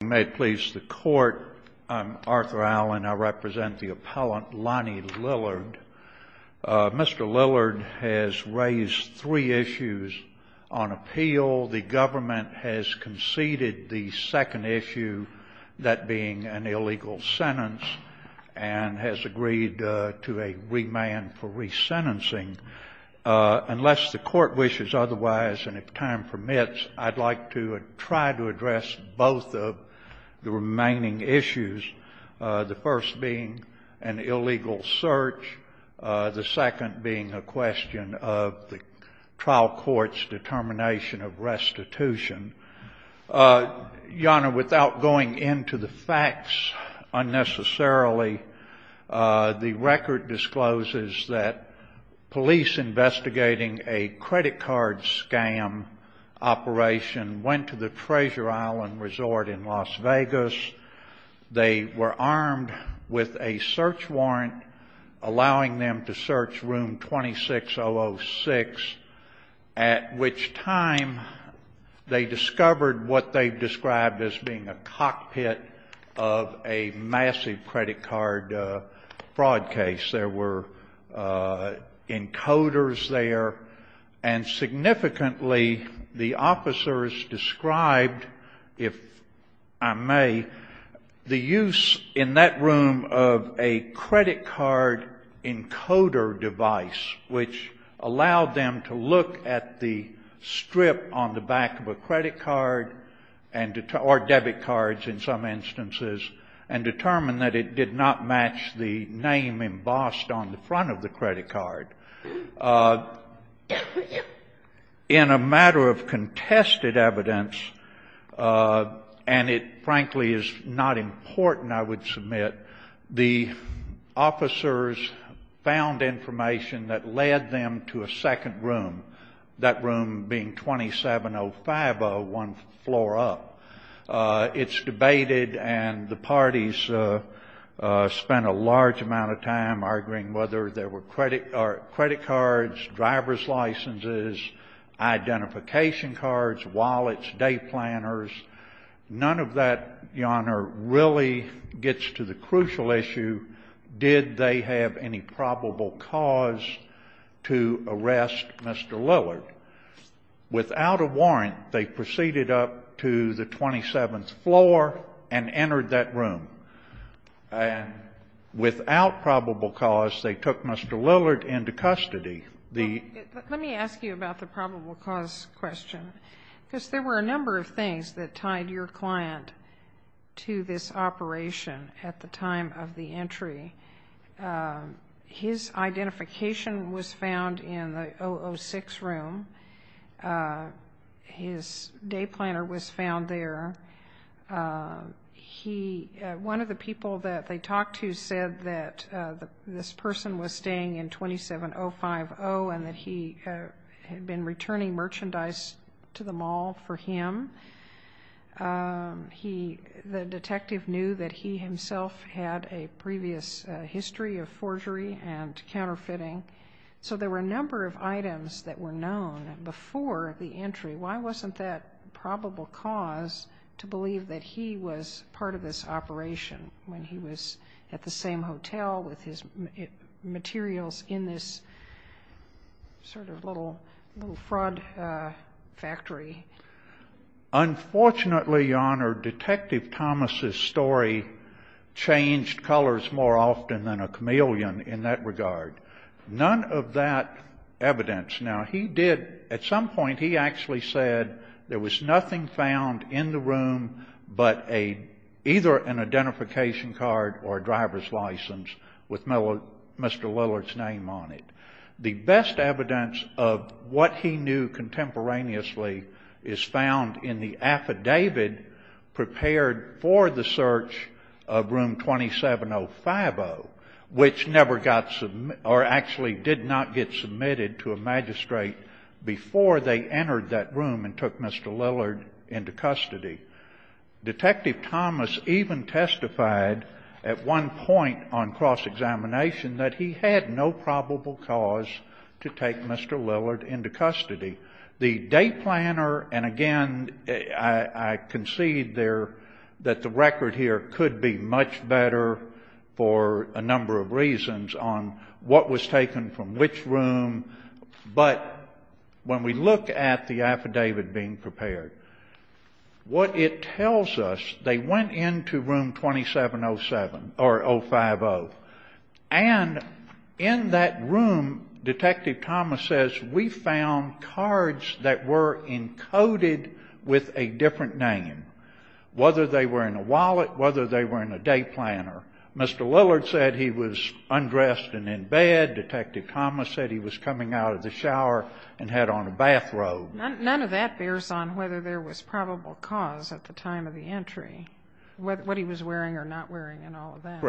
May it please the Court, I'm Arthur Allen. I represent the appellant Lonnie Lillard. Mr. Lillard has raised three issues on appeal. The government has conceded the second issue, that being an illegal sentence, and has agreed to a remand for resentencing. Unless the Court wishes otherwise and if time permits, I'd like to try to address both of the remaining issues, the first being an illegal search, the second being a question of the trial court's determination of restitution. Your Honor, without going into the facts unnecessarily, the record discloses that police investigating a credit card scam operation went to the Treasure Island Resort in Las Vegas. They were armed with a search warrant allowing them to search room 26006, at which time they discovered what they've fraud case. There were encoders there. And significantly, the officers described, if I may, the use in that room of a credit card encoder device, which allowed them to look at the strip on the back of a credit card or debit cards in some instances and determine that it did not match the name embossed on the front of the credit card. In a matter of contested evidence, and it frankly is not important, I would submit, the officers found information that led them to a second room, that room being 27050, one floor up. It's debated, and the parties spent a large amount of time arguing whether there were credit cards, driver's licenses, identification cards, wallets, day planners. None of that, Your Honor, really gets to the crucial issue, did they have any probable cause to arrest Mr. Lillard. Without a warrant, they proceeded up to the 27th floor and entered that room. And without probable cause, they took Mr. Lillard into custody. Let me ask you about the probable cause question. Because there were a number of things that tied your client to this operation at the time of the entry. His identification was found in the 006 room. His day planner was found there. One of the people that they talked to said that this person was staying in 27050, and that he had been returning merchandise to the mall for him. The detective knew that he himself had a previous history of forgery and counterfeiting. So there were a number of items that were known before the entry. Why wasn't that probable cause to believe that he was part of this operation when he was at the same hotel with his materials in this sort of little fraud factory? Unfortunately, Your Honor, Detective Thomas' story changed colors more often than a chameleon in that regard. None of that evidence. Now, he did, at some point he actually said there was nothing found in the room but either an identification card or a driver's license with Mr. Lillard's name on it. The best evidence of what he knew contemporaneously is found in the affidavit prepared for the search of room 27050, which never got or actually did not get submitted to a magistrate before they entered that room and took Mr. Lillard into custody. Detective Thomas even testified at one point on cross-examination that he had no probable cause to take Mr. Lillard into custody. The day planner, and again, I concede there that the record here could be much better for a number of reasons on what was taken from which room. But when we look at the affidavit being prepared, what it tells us, they went into room 2707 or 050, and in that room, Detective Thomas says, we found cards that were encoded with a different name, whether they were in a wallet, whether they were in a day planner. Mr. Lillard said he was undressed and in bed. Detective Thomas said he was coming out of the shower and had on a bathrobe. None of that bears on whether there was probable cause at the time of the entry, what he was wearing or not wearing and all of that.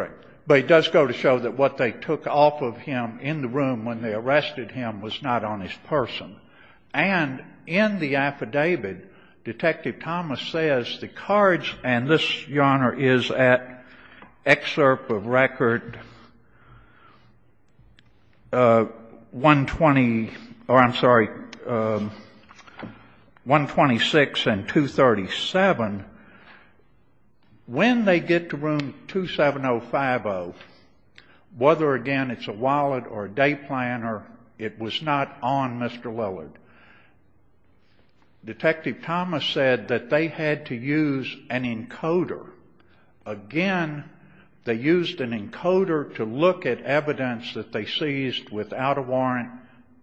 But it does go to show that what they took off of him in the room when they arrested him was not on his person. And in the affidavit, Detective Thomas says the cards, and this, Your Honor, is at excerpt of record 120 or I'm sorry, 126 and 237. When they get to room 27050, whether again it's a wallet or a day planner, it was not on Mr. Lillard. Detective Thomas said that they had to use an encoder. Again, they used an encoder to look at evidence that they seized without a warrant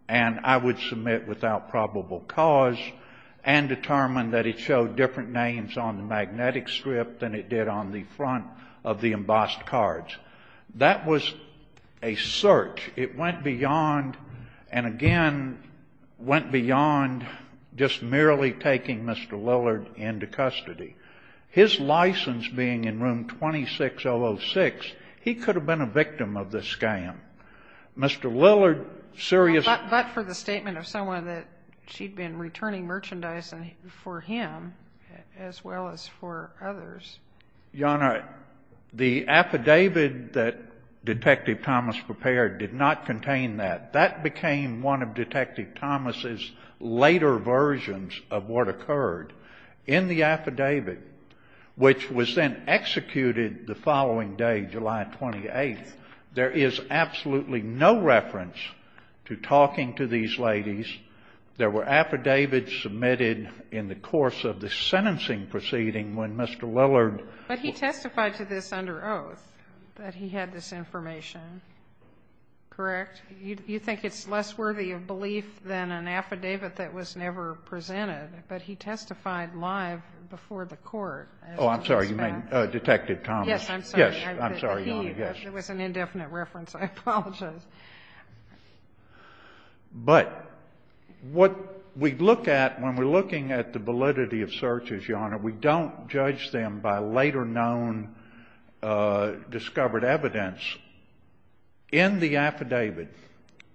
and I would submit without probable cause and determine that it showed different names on the magnetic strip than it did on the front of the embossed cards. That was a search. It went beyond, and again, went beyond just merely taking Mr. Lillard into custody. His license being in room 26006, he could have been a victim of the scam. Mr. Lillard seriously ---- for him as well as for others. Your Honor, the affidavit that Detective Thomas prepared did not contain that. That became one of Detective Thomas's later versions of what occurred. In the affidavit, which was then executed the following day, July 28th, there is absolutely no reference to talking to these ladies. There were affidavits submitted in the course of the sentencing proceeding when Mr. Lillard ---- But he testified to this under oath, that he had this information. Correct? You think it's less worthy of belief than an affidavit that was never presented, but he testified live before the court. Oh, I'm sorry. You mean Detective Thomas? Yes, I'm sorry. Yes, I'm sorry, Your Honor. There was an indefinite reference. I apologize. But what we look at when we're looking at the validity of searches, Your Honor, we don't judge them by later known discovered evidence. In the affidavit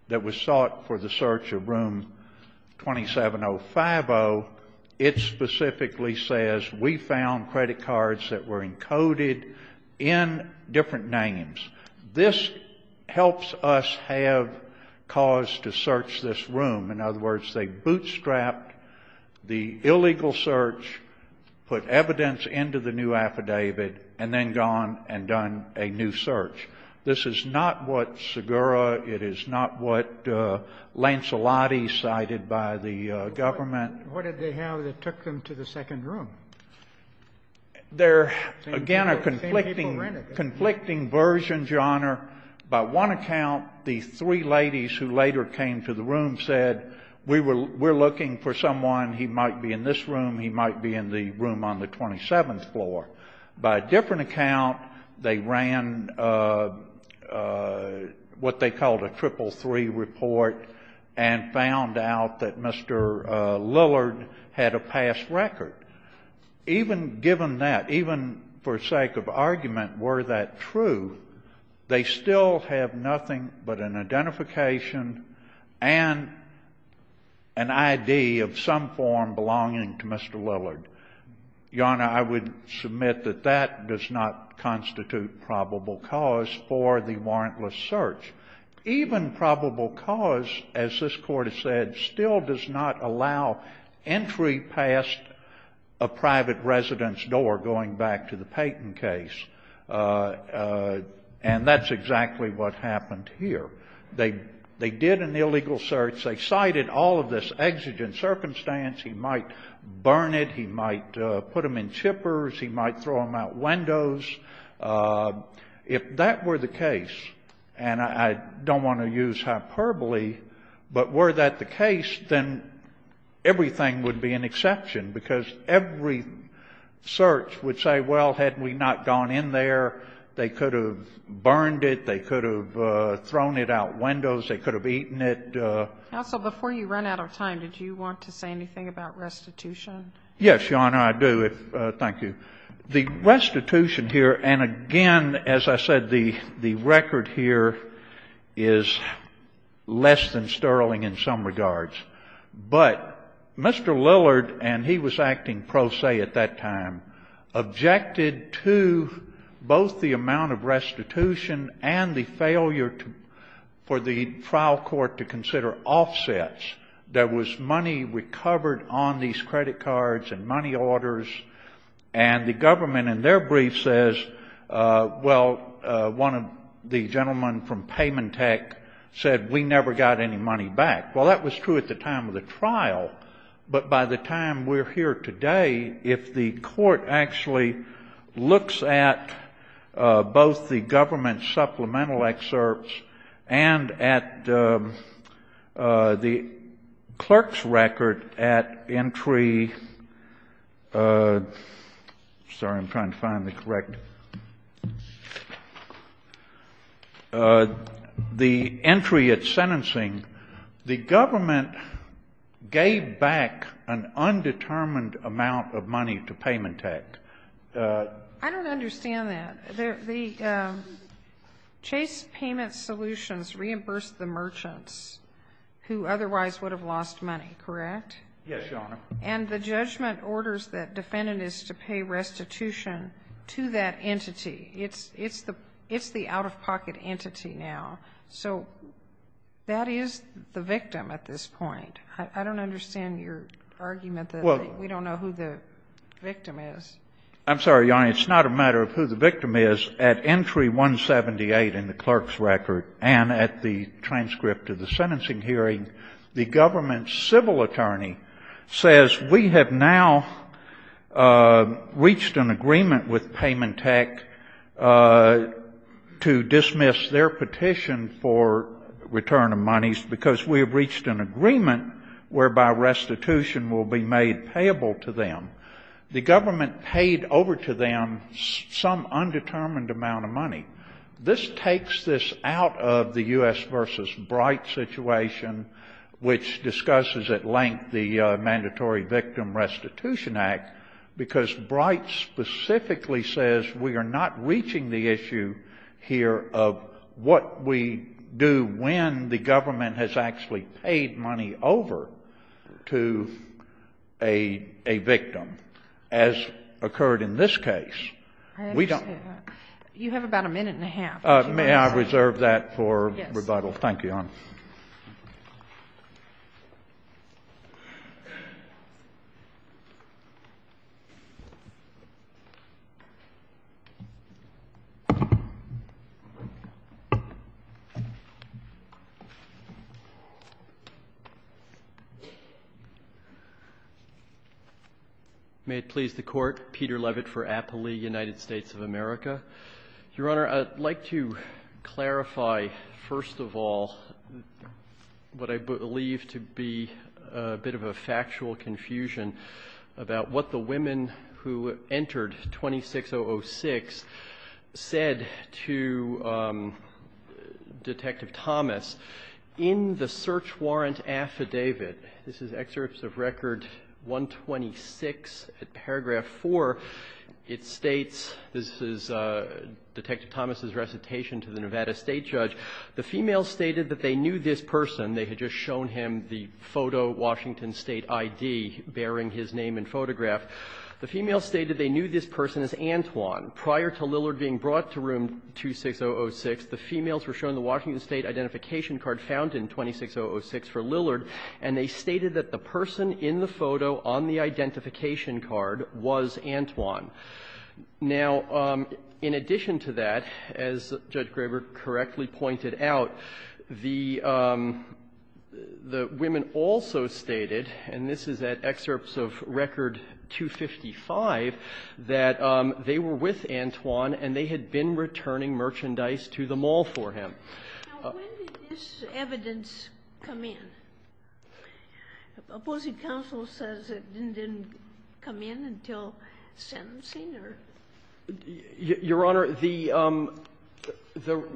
that was sought for the search of room 27050, it specifically says, we found credit cards that were encoded in different names. This helps us have cause to search this room. In other words, they bootstrapped the illegal search, put evidence into the new affidavit, and then gone and done a new search. This is not what Segura, it is not what Lancelotti cited by the government. What did they have that took them to the second room? They're, again, a conflicting version, Your Honor. By one account, the three ladies who later came to the room said, we're looking for someone, he might be in this room, he might be in the room on the 27th floor. By a different account, they ran what they called a triple three report and found out that Mr. Lillard had a past record. Even given that, even for sake of argument, were that true, they still have nothing but an identification and an ID of some form belonging to Mr. Lillard. Your Honor, I would submit that that does not constitute probable cause for the warrantless search. Even probable cause, as this Court has said, still does not allow entry past a private resident's door going back to the Payton case. And that's exactly what happened here. They did an illegal search. They cited all of this exigent circumstance. He might burn it. He might put them in chippers. He might throw them out windows. If that were the case, and I don't want to use hyperbole, but were that the case, then everything would be an exception, because every search would say, well, had we not gone in there, they could have burned it, they could have thrown it out windows, they could have eaten it. Counsel, before you run out of time, did you want to say anything about restitution? Yes, Your Honor, I do. Thank you. The restitution here, and again, as I said, the record here is less than sterling in some regards. But Mr. Lillard, and he was acting pro se at that time, objected to both the amount of restitution and the failure for the trial court to consider offsets. There was money recovered on these credit cards and money orders, and the government in their brief says, well, one of the gentlemen from Paymentech said, we never got any money back. Well, that was true at the time of the trial, but by the time we're here today, if the court actually looks at both the government supplemental excerpts and at the government clerk's record at entry — sorry, I'm trying to find the correct — the entry at sentencing, the government gave back an undetermined amount of money to Paymentech. I don't understand that. The Chase Payment Solutions reimbursed the merchants who otherwise would have lost money, correct? Yes, Your Honor. And the judgment orders that defendant is to pay restitution to that entity. It's the out-of-pocket entity now. So that is the victim at this point. I don't understand your argument that we don't know who the victim is. I'm sorry, Your Honor. It's not a matter of who the victim is. At entry 178 in the clerk's record and at the transcript of the sentencing hearing, the government's civil attorney says we have now reached an agreement with Paymentech to dismiss their petition for return of monies because we have reached an agreement whereby restitution will be made payable to them. The government paid over to them some undetermined amount of money. This takes this out of the U.S. versus Bright situation, which discusses at length the Mandatory Victim Restitution Act, because Bright specifically says we are not reaching the issue here of what we do when the government has actually paid money over to a victim as occurred in this case. We don't. You have about a minute and a half. May I reserve that for rebuttal? Yes. Thank you, Your Honor. May it please the Court, Peter Levitt for Appley, United States of America. Your Honor, I'd like to clarify, first of all, what I believe to be a bit of a factual confusion about what the women who entered 26006 said to Detective Thomas. In the search warrant affidavit, this is Excerpts of Record 126, paragraph 4, it states this is Detective Thomas' recitation to the Nevada State Judge. The females stated that they knew this person. They had just shown him the photo Washington State ID bearing his name and photograph. The females stated they knew this person as Antwon. Prior to Lillard being brought to room 26006, the females were shown the Washington State identification card found in 26006 for Lillard, and they stated that the person in the photo on the identification card was Antwon. Now, in addition to that, as Judge Graber correctly pointed out, the women also stated, and this is at Excerpts of Record 255, that they were with Antwon and they had been returning merchandise to the mall for him. Now, when did this evidence come in? Opposing counsel says it didn't come in until sentencing or? Your Honor, the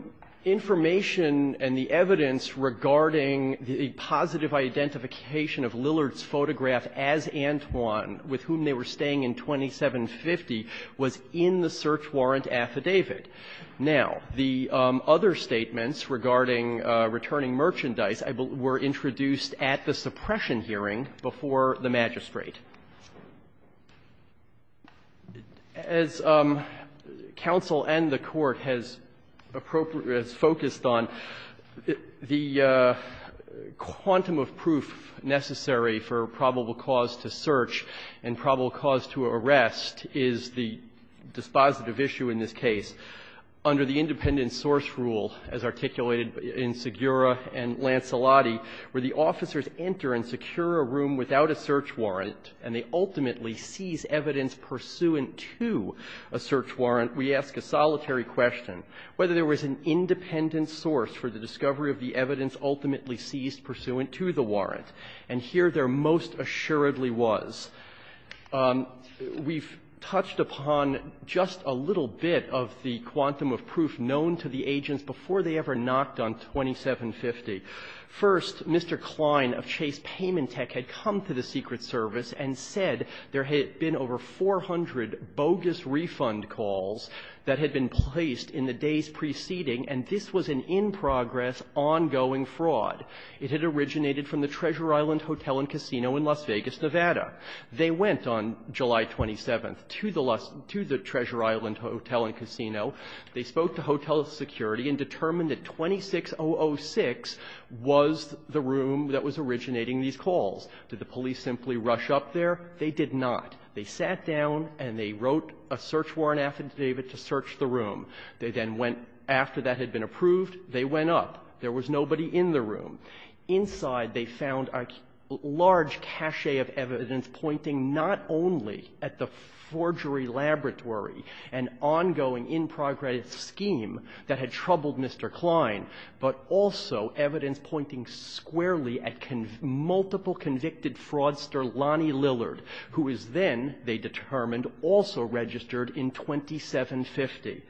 information and the evidence regarding the positive identification of Lillard's photograph as Antwon with whom they were staying in 2750 was in the search warrant affidavit. Now, the other statements regarding returning merchandise were introduced at the suppression hearing before the magistrate. As counsel and the Court has focused on, the quantum of proof necessary for probable cause to search and probable cause to arrest is the dispositive issue in this case. Under the independent source rule, as articulated in Segura and Lancelotti, where the officers enter and secure a room without a search warrant, and they ultimately seize evidence pursuant to a search warrant, we ask a solitary question whether there was an independent source for the discovery of the evidence ultimately seized pursuant to the warrant, and here there most assuredly was. We've touched upon just a little bit of the quantum of proof known to the agents before they ever knocked on 2750. First, Mr. Klein of Chase Paymentech had come to the Secret Service and said there had been over 400 bogus refund calls that had been placed in the days preceding, and this was an in-progress, ongoing fraud. It had originated from the Treasure Island Hotel and Casino in Las Vegas, Nevada. They went on July 27th to the Treasure Island Hotel and Casino. They spoke to hotel security and determined that 26006 was the room that was originating these calls. Did the police simply rush up there? They did not. They sat down and they wrote a search warrant affidavit to search the room. They then went after that had been approved. They went up. There was nobody in the room. Inside, they found a large cachet of evidence pointing not only at the forgery laboratory, an ongoing in-progress scheme that had troubled Mr. Klein, but also evidence pointing squarely at multiple convicted fraudster Lonnie Lillard, who is then, they determined, also registered in 2750.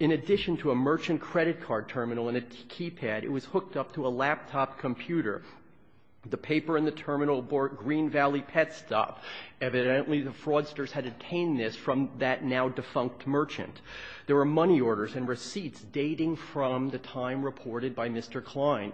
In addition to a merchant credit card terminal and a keypad, it was hooked up to a laptop computer. The paper in the terminal bore Green Valley Pet Stop. Evidently, the fraudsters had obtained this from that now-defunct merchant. There were money orders and receipts dating from the time reported by Mr. Klein,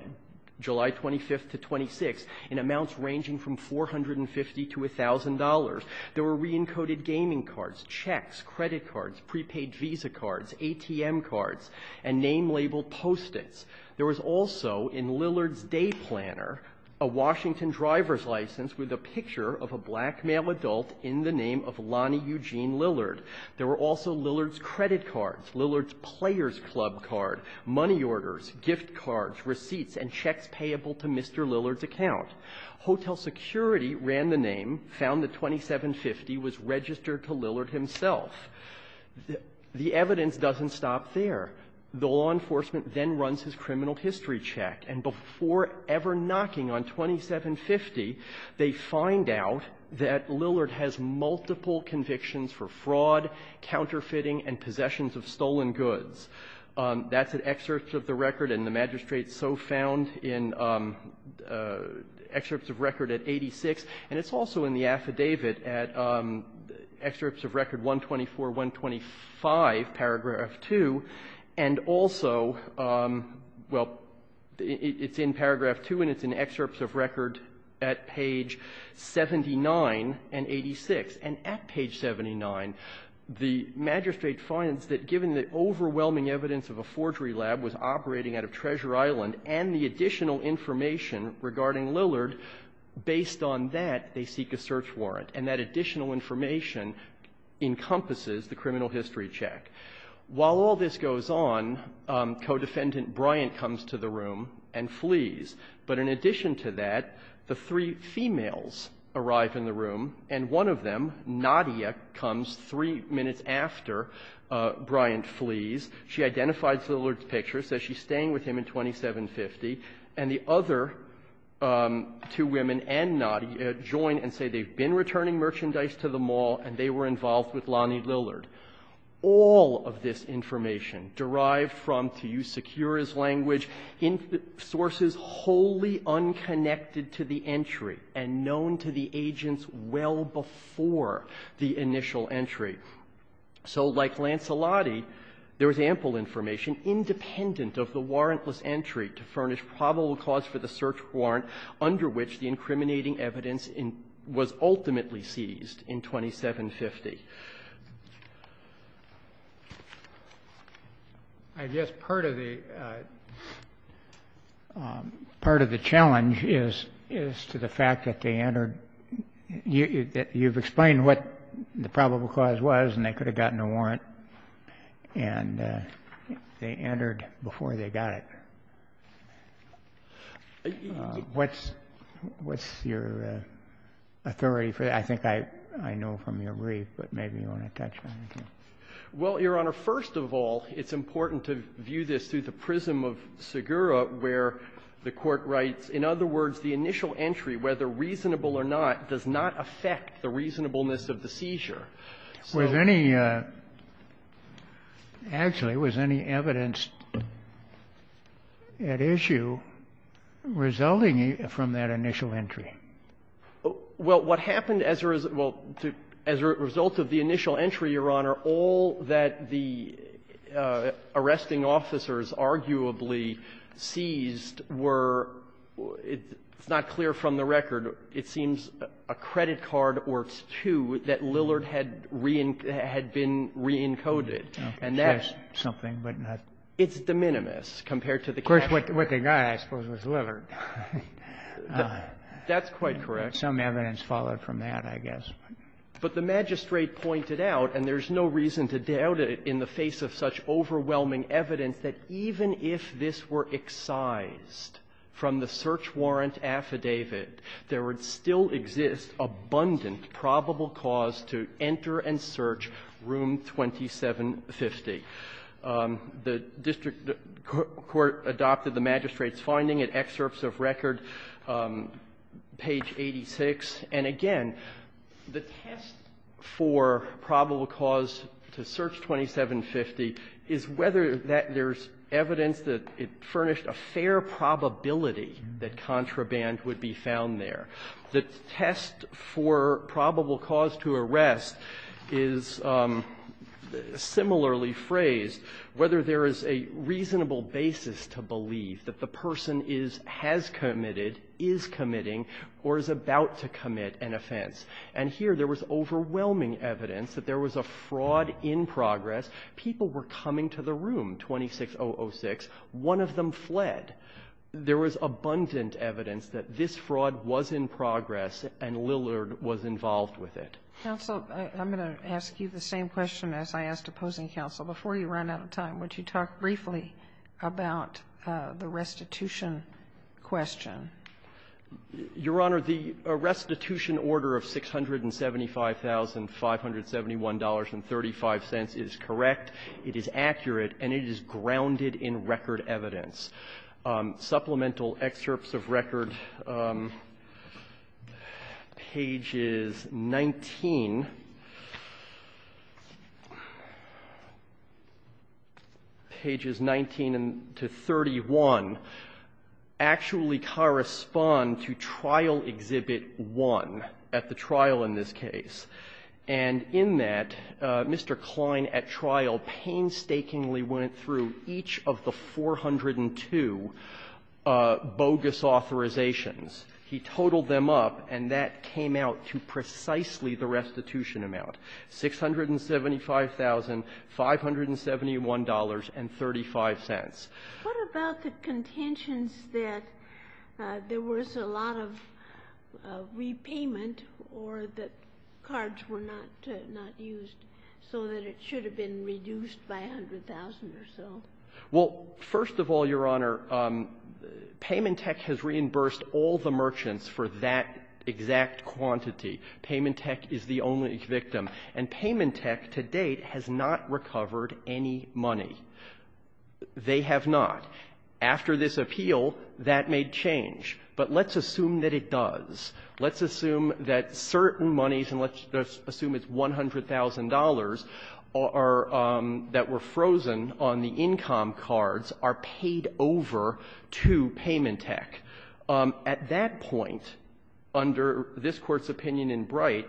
July 25th to 26th, in amounts ranging from $450 to $1,000. There were re-encoded gaming cards, checks, credit cards, prepaid visa cards, ATM cards, and name-labeled Post-its. There was also, in Lillard's day planner, a Washington driver's license with a picture of a black male adult in the name of Lonnie Eugene Lillard. There were also Lillard's credit cards, Lillard's players' club card, money orders, gift cards, receipts, and checks payable to Mr. Lillard's account. Hotel Security ran the name, found that 2750 was registered to Lillard himself. The evidence doesn't stop there. The law enforcement then runs his criminal history check. And before ever knocking on 2750, they find out that Lillard has multiple convictions for fraud, counterfeiting, and possessions of stolen goods. That's an excerpt of the record, and the magistrate's so found in excerpts of record at 86, and it's also in the affidavit at excerpts of record 124, 125, paragraph 2, and also, well, it's in paragraph 2, and it's in excerpts of record at page 79 and 86. And at page 79, the magistrate finds that given the overwhelming evidence of a forgery lab was operating out of Treasure Island and the additional information regarding Lillard, based on that, they seek a search warrant. And that additional information encompasses the criminal history check. While all this goes on, Codefendant Bryant comes to the room and flees. But in addition to that, the three females arrive in the room, and one of them, Nadia, comes three minutes after Bryant flees. She identifies Lillard's picture, says she's staying with him in 2750, and the other two women and Nadia join and say they've been returning merchandise to the mall, and they were involved with Lonnie Lillard. All of this information, derived from, to use Secura's language, sources wholly unconnected to the entry and known to the agents well before the initial entry. So like Lancelotti, there was ample information independent of the warrantless entry to furnish probable cause for the search warrant under which the incriminating evidence was ultimately seized in 2750. I guess part of the challenge is to the fact that they entered, you've explained what the probable cause was, and they could have gotten a warrant, and they entered before they got it. What's your authority for that? I think I know from your brief, but what's your authority for that? Maybe you want to touch on it. Well, Your Honor, first of all, it's important to view this through the prism of Secura, where the Court writes, in other words, the initial entry, whether reasonable or not, does not affect the reasonableness of the seizure. Was any, actually, was any evidence at issue resulting from that initial entry? Well, what happened as a result of the initial entry, Your Honor, all that the arresting officers arguably seized were, it's not clear from the record, it seems a credit card or two that Lillard had been re-encoded, and that's the minimus compared to the cash. Of course, what they got, I suppose, was Lillard. That's quite correct. Some evidence followed from that, I guess. But the magistrate pointed out, and there's no reason to doubt it in the face of such overwhelming evidence, that even if this were excised from the search warrant affidavit, there would still exist abundant probable cause to enter and search Room 2750. The district court adopted the magistrate's finding in excerpts of record, page 86. And again, the test for probable cause to search 2750 is whether that there's evidence that it furnished a fair probability that contraband would be found there. The test for probable cause to arrest is similarly framed in the search warrant whether there is a reasonable basis to believe that the person is, has committed, is committing, or is about to commit an offense. And here there was overwhelming evidence that there was a fraud in progress. People were coming to the room, 26006. One of them fled. There was abundant evidence that this fraud was in progress and Lillard was involved with it. Counsel, I'm going to ask you the same question as I asked opposing counsel. Before you run out of time, would you talk briefly about the restitution question? Your Honor, the restitution order of $675,571.35 is correct. It is accurate, and it is grounded in record evidence. Supplemental excerpts of record, pages 19, pages 19 to 31, actually correspond to Trial Exhibit 1 at the trial in this case. And in that, Mr. Klein at trial painstakingly went through each of the 402 bogus authorizations. He totaled them up, and that came out to precisely the restitution amount, $675,571.35. What about the contentions that there was a lot of repayment or that cards were not used so that it should have been reduced by $100,000 or so? Well, first of all, Your Honor, Paymentech has reimbursed all the merchants for that exact quantity. Paymentech is the only victim. And Paymentech to date has not recovered any money. They have not. After this appeal, that made change. But let's assume that it does. Let's assume that certain monies, and let's assume it's $100,000, are that were frozen on the income cards are paid over to Paymentech. At that point, under this Court's opinion in Bright,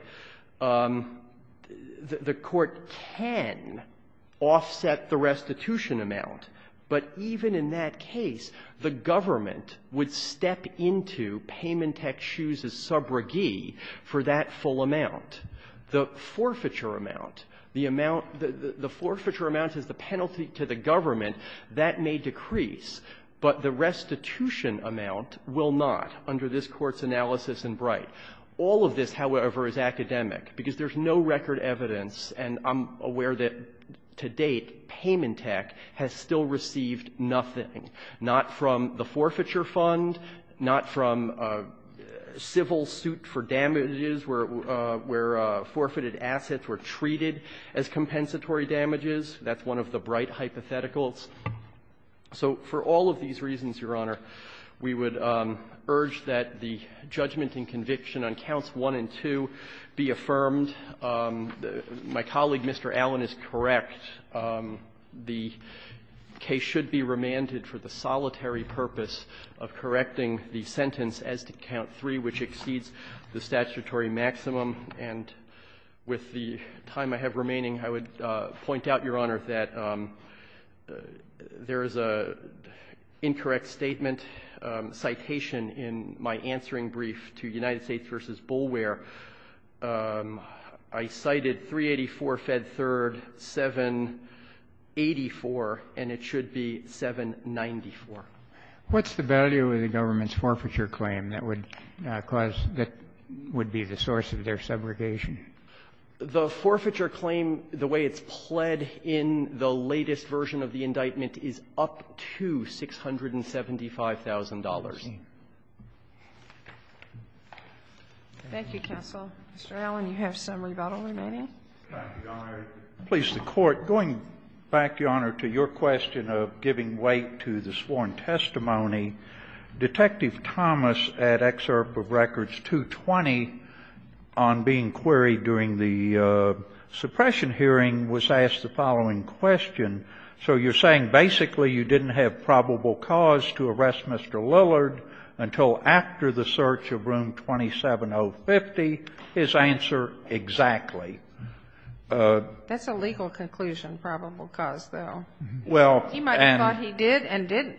the Court can offset the restitution amount. But even in that case, the government would step into Paymentech's shoes as subrogee for that full amount. The forfeiture amount, the amount the forfeiture amount is the penalty to the government, that may decrease, but the restitution amount will not under this Court's analysis in Bright. All of this, however, is academic, because there's no record evidence, and I'm aware that to date, Paymentech has still received nothing, not from the forfeiture fund, not from civil suit for damages where forfeited assets were treated as compensatory damages. That's one of the Bright hypotheticals. So for all of these reasons, Your Honor, we would urge that the judgment and conviction on counts 1 and 2 be affirmed. My colleague, Mr. Allen, is correct. The case should be remanded for the solitary purpose of correcting the sentence as to count 3, which exceeds the statutory maximum. And with the time I have remaining, I would point out, Your Honor, that there is an incorrect statement, citation in my answering brief to United States v. Boulware where I cited 384, Fed 3rd, 784, and it should be 794. What's the value of the government's forfeiture claim that would cause the – would be the source of their segregation? The forfeiture claim, the way it's pled in the latest version of the indictment, is up to $675,000. Thank you, counsel. Mr. Allen, you have some rebuttal remaining. Thank you, Your Honor. Please, the Court, going back, Your Honor, to your question of giving weight to the sworn testimony, Detective Thomas, at excerpt of records 220 on being queried during the suppression hearing, was asked the following question. So you're saying basically you didn't have probable cause to arrest Mr. Lowe and Mr. Lillard until after the search of room 27050? His answer, exactly. That's a legal conclusion, probable cause, though. Well, and – He might have thought he did and didn't,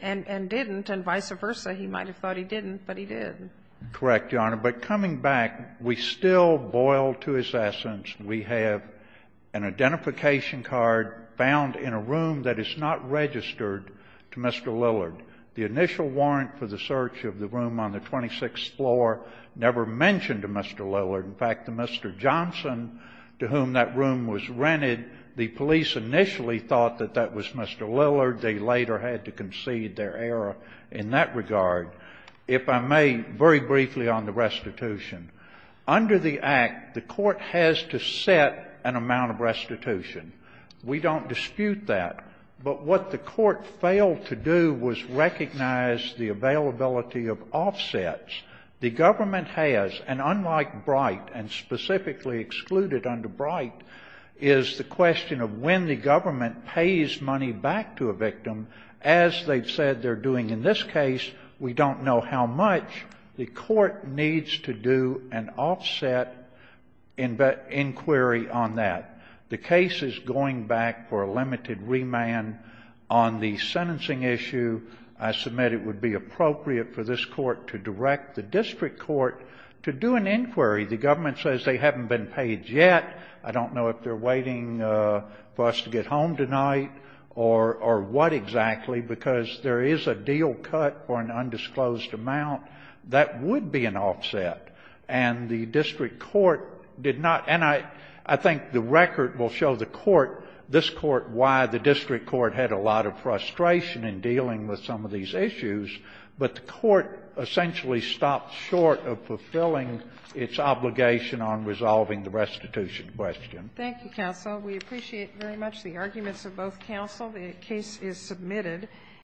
and vice versa. He might have thought he didn't, but he did. Correct, Your Honor. But coming back, we still boil to his essence. We have an identification card found in a room that is not registered to Mr. Lillard. The initial warrant for the search of the room on the 26th floor never mentioned Mr. Lillard. In fact, the Mr. Johnson to whom that room was rented, the police initially thought that that was Mr. Lillard. They later had to concede their error in that regard. If I may, very briefly on the restitution. Under the Act, the Court has to set an amount of restitution. We don't dispute that. But what the Court failed to do was recognize the availability of offsets. The Government has, and unlike Bright and specifically excluded under Bright, is the question of when the Government pays money back to a victim, as they've said they're doing in this case, we don't know how much. The Court needs to do an offset inquiry on that. The case is going back for a limited remand. On the sentencing issue, I submit it would be appropriate for this Court to direct the district court to do an inquiry. The Government says they haven't been paid yet. I don't know if they're waiting for us to get home tonight or what exactly, because there is a deal cut for an undisclosed amount. That would be an offset. And the district court did not, and I think the record will show the court, this court, why the district court had a lot of frustration in dealing with some of these issues, but the court essentially stopped short of fulfilling its obligation on resolving the restitution question. Thank you, counsel. We appreciate very much the arguments of both counsel. The case is submitted.